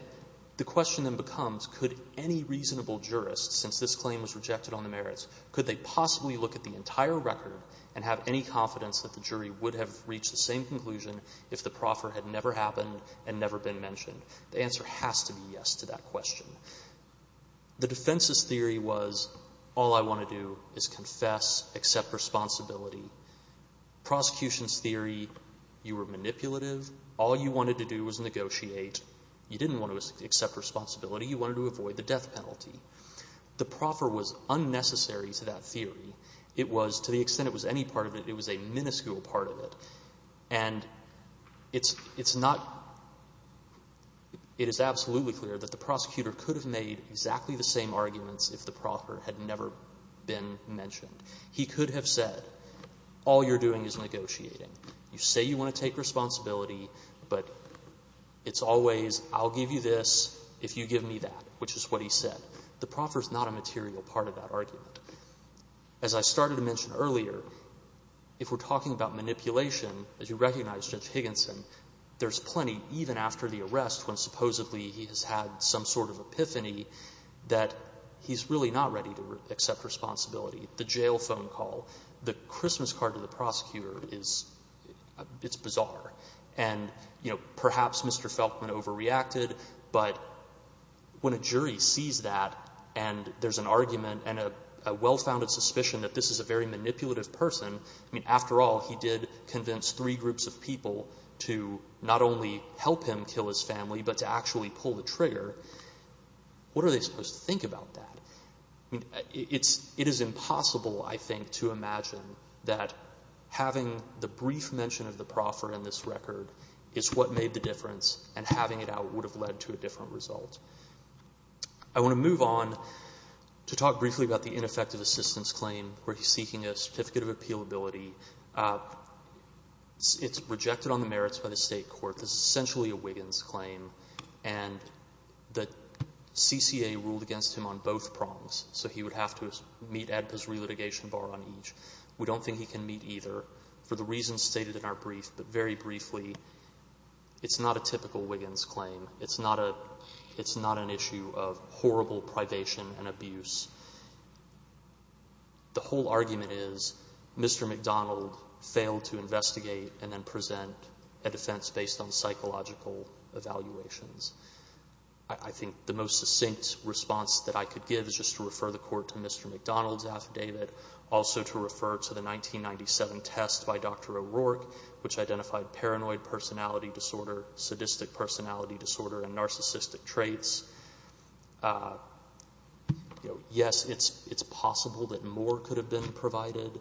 the question then becomes could any reasonable jurist, since this claim was rejected on the merits, could they possibly look at the entire record and have any confidence that the jury would have reached the same conclusion if the proffer had never happened and never been mentioned? The answer has to be yes to that question. The defense's theory was all I want to do is confess, accept responsibility. Prosecution's theory, you were manipulative. All you wanted to do was negotiate. You didn't want to accept responsibility. You wanted to avoid the death penalty. The proffer was unnecessary to that theory. It was, to the extent it was any part of it, it was a minuscule part of it. And it's not, it is absolutely clear that the prosecutor could have made exactly the same arguments if the proffer had never been mentioned. He could have said all you're doing is negotiating. You say you want to take responsibility, but it's always I'll give you this if you give me that, which is what he said. The proffer is not a material part of that argument. As I started to mention earlier, if we're talking about manipulation, as you recognize, Judge Higginson, there's plenty, even after the arrest, when supposedly he has had some sort of epiphany, that he's really not ready to accept responsibility. The jail phone call, the Christmas card to the prosecutor, it's bizarre. And perhaps Mr. Felkman overreacted, but when a jury sees that and there's an argument and a well-founded suspicion that this is a very manipulative person, I mean, after all, he did convince three groups of people to not only help him kill his family, but to actually pull the trigger. What are they supposed to think about that? It is impossible, I think, to imagine that having the brief mention of the proffer in this record is what made the difference and having it out would have led to a different result. I want to move on to talk briefly about the ineffective assistance claim where he's seeking a certificate of appealability. It's rejected on the merits by the state court. This is essentially a Wiggins claim, and the CCA ruled against him on both prongs, so he would have to meet ADPA's relitigation bar on each. We don't think he can meet either for the reasons stated in our brief, but very briefly, it's not a typical Wiggins claim. It's not an issue of horrible privation and abuse. The whole argument is Mr. McDonald failed to investigate and then present a defense based on psychological evaluations. I think the most succinct response that I could give is just to refer the court to Mr. McDonald's affidavit, also to refer to the 1997 test by Dr. O'Rourke, which identified paranoid personality disorder, sadistic personality disorder, and narcissistic traits. Yes, it's possible that more could have been provided,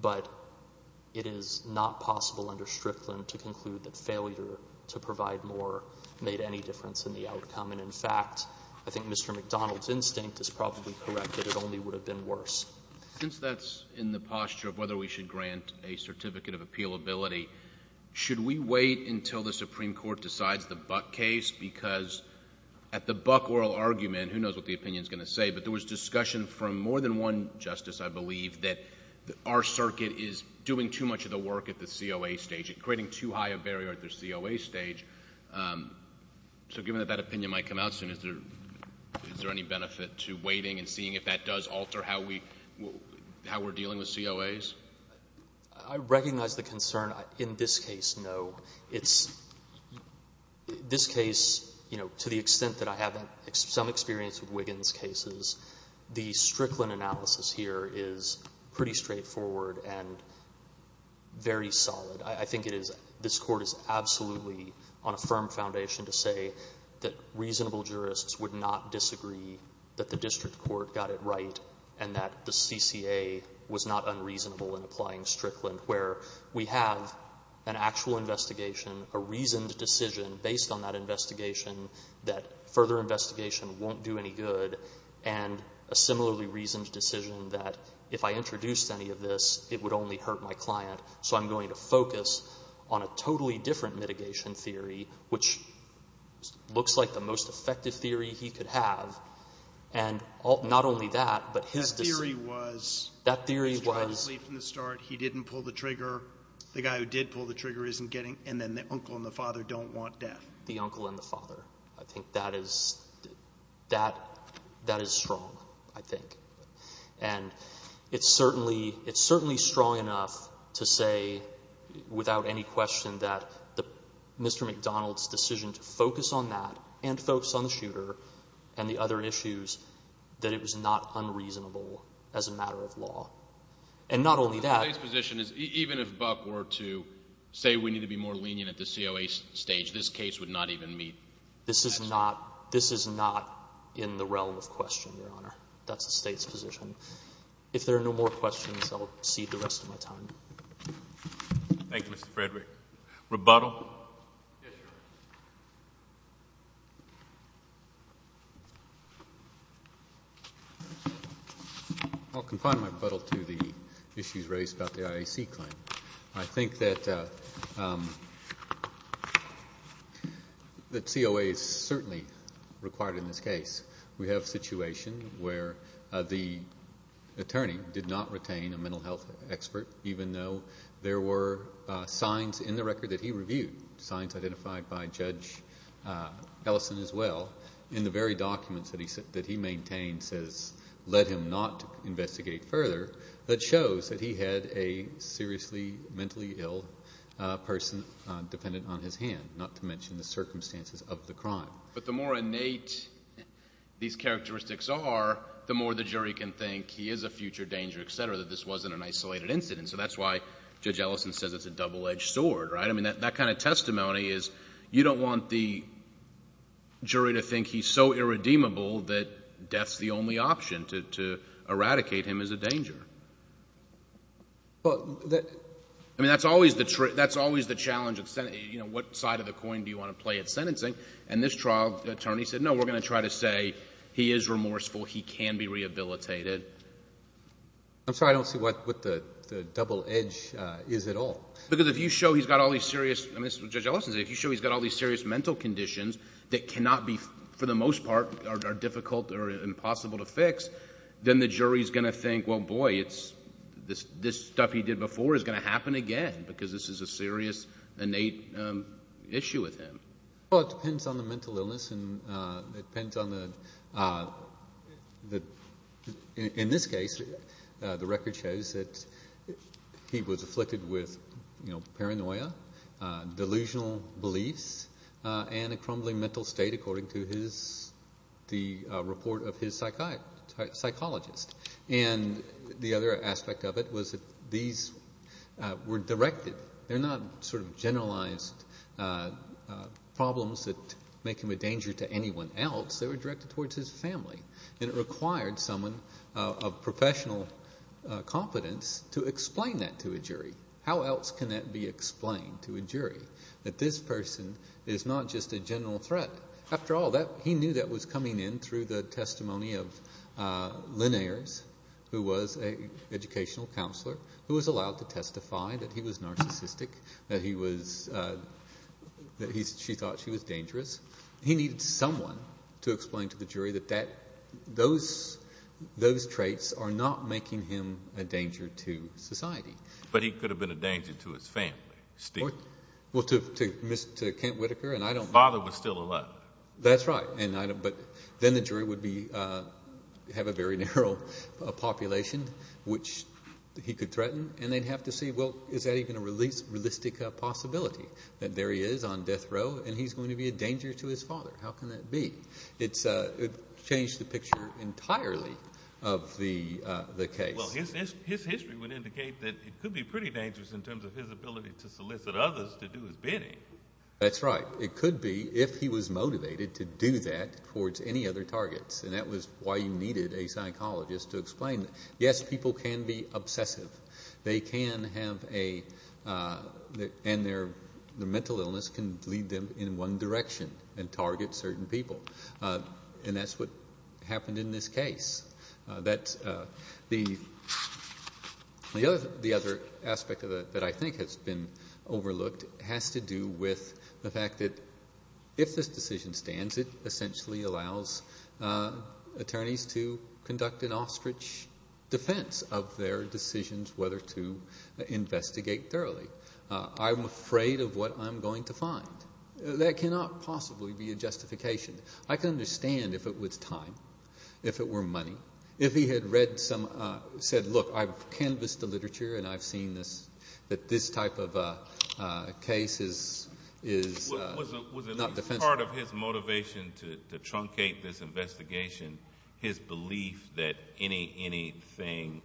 but it is not possible under Strickland to conclude that failure to provide more made any difference in the outcome. In fact, I think Mr. McDonald's instinct is probably correct that it only would have been worse. Since that's in the posture of whether we should grant a certificate of appealability, should we wait until the Supreme Court decides the Buck case? Because at the Buck oral argument, who knows what the opinion is going to say, but there was discussion from more than one justice, I believe, that our circuit is doing too much of the work at the COA stage and creating too high a barrier at the COA stage. So given that that opinion might come out soon, is there any benefit to waiting and seeing if that does alter how we're dealing with COAs? I recognize the concern. In this case, no. This case, to the extent that I have some experience with Wiggins' cases, the Strickland analysis here is pretty straightforward and very solid. I think this court is absolutely on a firm foundation to say that reasonable jurists would not disagree that the district court got it right and that the CCA was not unreasonable in applying Strickland, where we have an actual investigation, a reasoned decision based on that investigation that further investigation won't do any good, and a similarly reasoned decision that if I introduced any of this, it would only hurt my client, so I'm going to focus on a totally different mitigation theory, which looks like the most effective theory he could have. And not only that, but his decision... That theory was... That theory was... He was trying to leave from the start. He didn't pull the trigger. The guy who did pull the trigger isn't getting... And then the uncle and the father don't want death. The uncle and the father. I think that is strong, I think. And it's certainly strong enough to say without any question that Mr. McDonald's decision to focus on that and focus on the shooter and the other issues that it was not unreasonable as a matter of law. And not only that... His position is even if Buck were to say we need to be more lenient at the COA stage, this case would not even meet that stage. This is not in the realm of question, Your Honor. That's the State's position. If there are no more questions, I'll cede the rest of my time. Thank you, Mr. Frederick. Rebuttal? Yes, Your Honor. I'll confine my rebuttal to the issues raised about the IAC claim. I think that COA is certainly required in this case. We have a situation where the attorney did not retain a mental health expert even though there were signs in the record that he reviewed, signs identified by Judge Ellison as well, in the very documents that he maintains has led him not to investigate further that shows that he had a seriously mentally ill person dependent on his hand, not to mention the circumstances of the crime. But the more innate these characteristics are, the more the jury can think he is a future danger, etc., that this wasn't an isolated incident. So that's why Judge Ellison says it's a double-edged sword. That kind of testimony is you don't want the jury to think he's so irredeemable that death's the only option to eradicate him as a danger. I mean, that's always the challenge. You know, what side of the coin do you want to play at sentencing? And this trial, the attorney said, no, we're going to try to say he is remorseful, he can be rehabilitated. I'm sorry, I don't see what the double edge is at all. Because if you show he's got all these serious, and this is what Judge Ellison said, if you show he's got all these serious mental conditions that cannot be, for the most part, are difficult or impossible to fix, then the jury's going to think, well, boy, this stuff he did before is going to happen again because this is a serious, innate issue with him. Well, it depends on the mental illness, and it depends on the, in this case, the record shows that he was afflicted with paranoia, delusional beliefs, and a crumbling mental state, according to the report of his psychologist. And the other aspect of it was that these were directed. They're not sort of generalized problems that make him a danger to anyone else. They were directed towards his family. to explain that to a jury. How else can that be explained to a jury, that this person is not just a general threat? After all, he knew that was coming in through the testimony of Lynn Ayers, who was an educational counselor, who was allowed to testify that he was narcissistic, that she thought she was dangerous. He needed someone to explain to the jury that those traits are not making him a danger to society. But he could have been a danger to his family still. Well, to Kent Whitaker, and I don't... His father was still alive. That's right. But then the jury would have a very narrow population, which he could threaten, and they'd have to see, well, is that even a realistic possibility, that there he is on death row, and he's going to be a danger to his father? How can that be? It changed the picture entirely of the case. Well, his history would indicate that it could be pretty dangerous in terms of his ability to solicit others to do his bidding. That's right. It could be if he was motivated to do that towards any other targets, and that was why you needed a psychologist to explain that. Yes, people can be obsessive. They can have a... And their mental illness can lead them in one direction and target certain people. And that's what happened in this case. The other aspect that I think has been overlooked has to do with the fact that if this decision stands, it essentially allows attorneys to conduct an ostrich defense of their decisions whether to investigate thoroughly. I'm afraid of what I'm going to find. That cannot possibly be a justification. I can understand if it was time, if it were money, if he had read some... said, look, I've canvassed the literature and I've seen that this type of case is not defensible. Was it part of his motivation to truncate this investigation, his belief that anything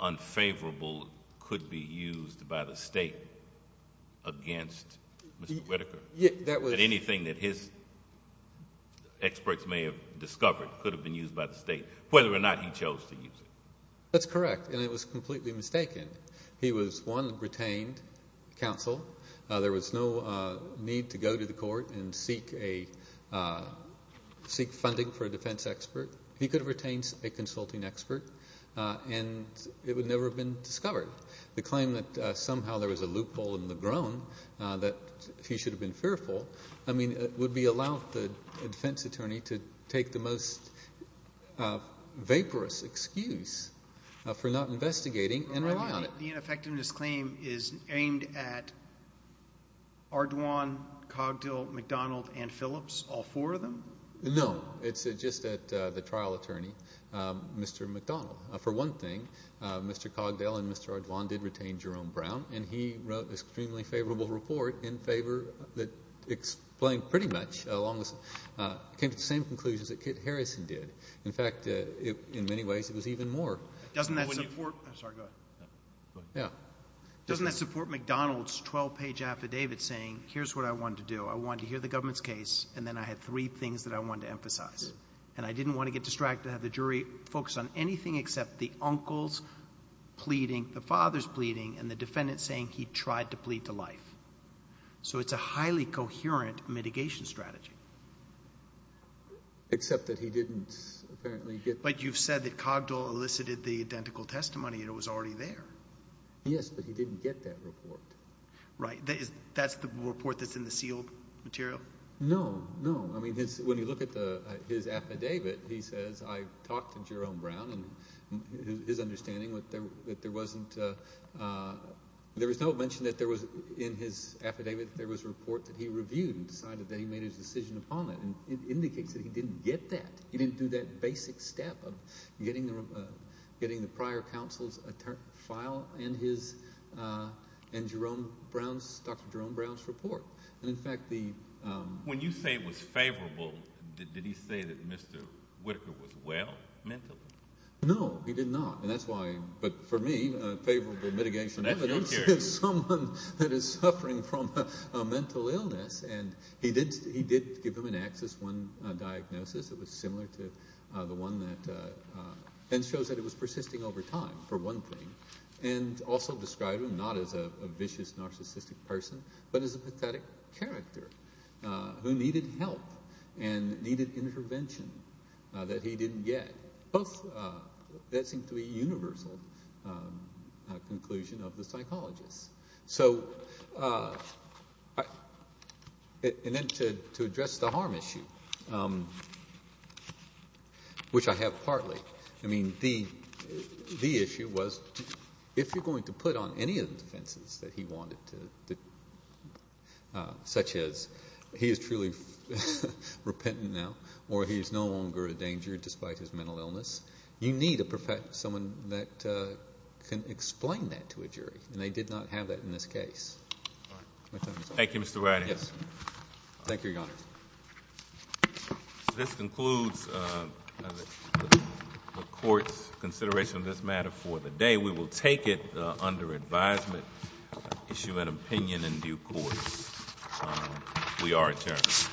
unfavorable could be used by the state against Mr. Whitaker? That anything that his experts may have discovered could have been used by the state, whether or not he chose to use it. That's correct, and it was completely mistaken. He was, one, retained counsel. There was no need to go to the court and seek funding for a defense expert. He could have retained a consulting expert, and it would never have been discovered. The claim that somehow there was a loophole in the groan that he should have been fearful, I mean, would be allowed the defense attorney to take the most vaporous excuse for not investigating and write me on it. The ineffectiveness claim is aimed at Ardoin, Cogdell, McDonald, and Phillips, all four of them? No, it's just at the trial attorney, Mr. McDonald. For one thing, Mr. Cogdell and Mr. Ardoin did retain Jerome Brown, and he wrote an extremely favorable report in favor that explained pretty much along the same conclusions that Kit Harrison did. In fact, in many ways, it was even more. Doesn't that support McDonald's 12-page affidavit saying, here's what I wanted to do. I wanted to hear the government's case, and then I had three things that I wanted to emphasize. And I didn't want to get distracted, have the jury focus on anything except the uncle's pleading, the father's pleading, and the defendant saying he tried to plead to life. So it's a highly coherent mitigation strategy. Except that he didn't apparently get... But you've said that Cogdell elicited the identical testimony and it was already there. Yes, but he didn't get that report. Right. That's the report that's in the sealed material? No, no. I mean, when you look at his affidavit, he says, I talked to Jerome Brown, and his understanding that there wasn't... There was no mention that there was, in his affidavit, that there was a report that he reviewed and decided that he made his decision upon it. And it indicates that he didn't get that. He didn't do that basic step of getting the prior counsel's file and Dr. Jerome Brown's report. And, in fact, the... When you say it was favorable, did he say that Mr Whitaker was well mentally? No, he did not. And that's why... But for me, favorable mitigation evidence is someone that is suffering from a mental illness. And he did give him an Axis I diagnosis that was similar to the one that... And shows that it was persisting over time, for one thing. And also described him not as a vicious, narcissistic person, but as a pathetic character who needed help. And needed intervention that he didn't get. Both... That seemed to be a universal conclusion of the psychologist. So... And then to address the harm issue, which I have partly. I mean, the issue was, if you're going to put on any of the defenses that he wanted to... Such as, he is truly repentant now, or he is no longer a danger, despite his mental illness, you need someone that can explain that to a jury. And they did not have that in this case. Thank you, Mr. Wright. Thank you, Your Honor. This concludes the Court's consideration of this matter for the day. We will take it under advisement, issue an opinion in due course. We are adjourned.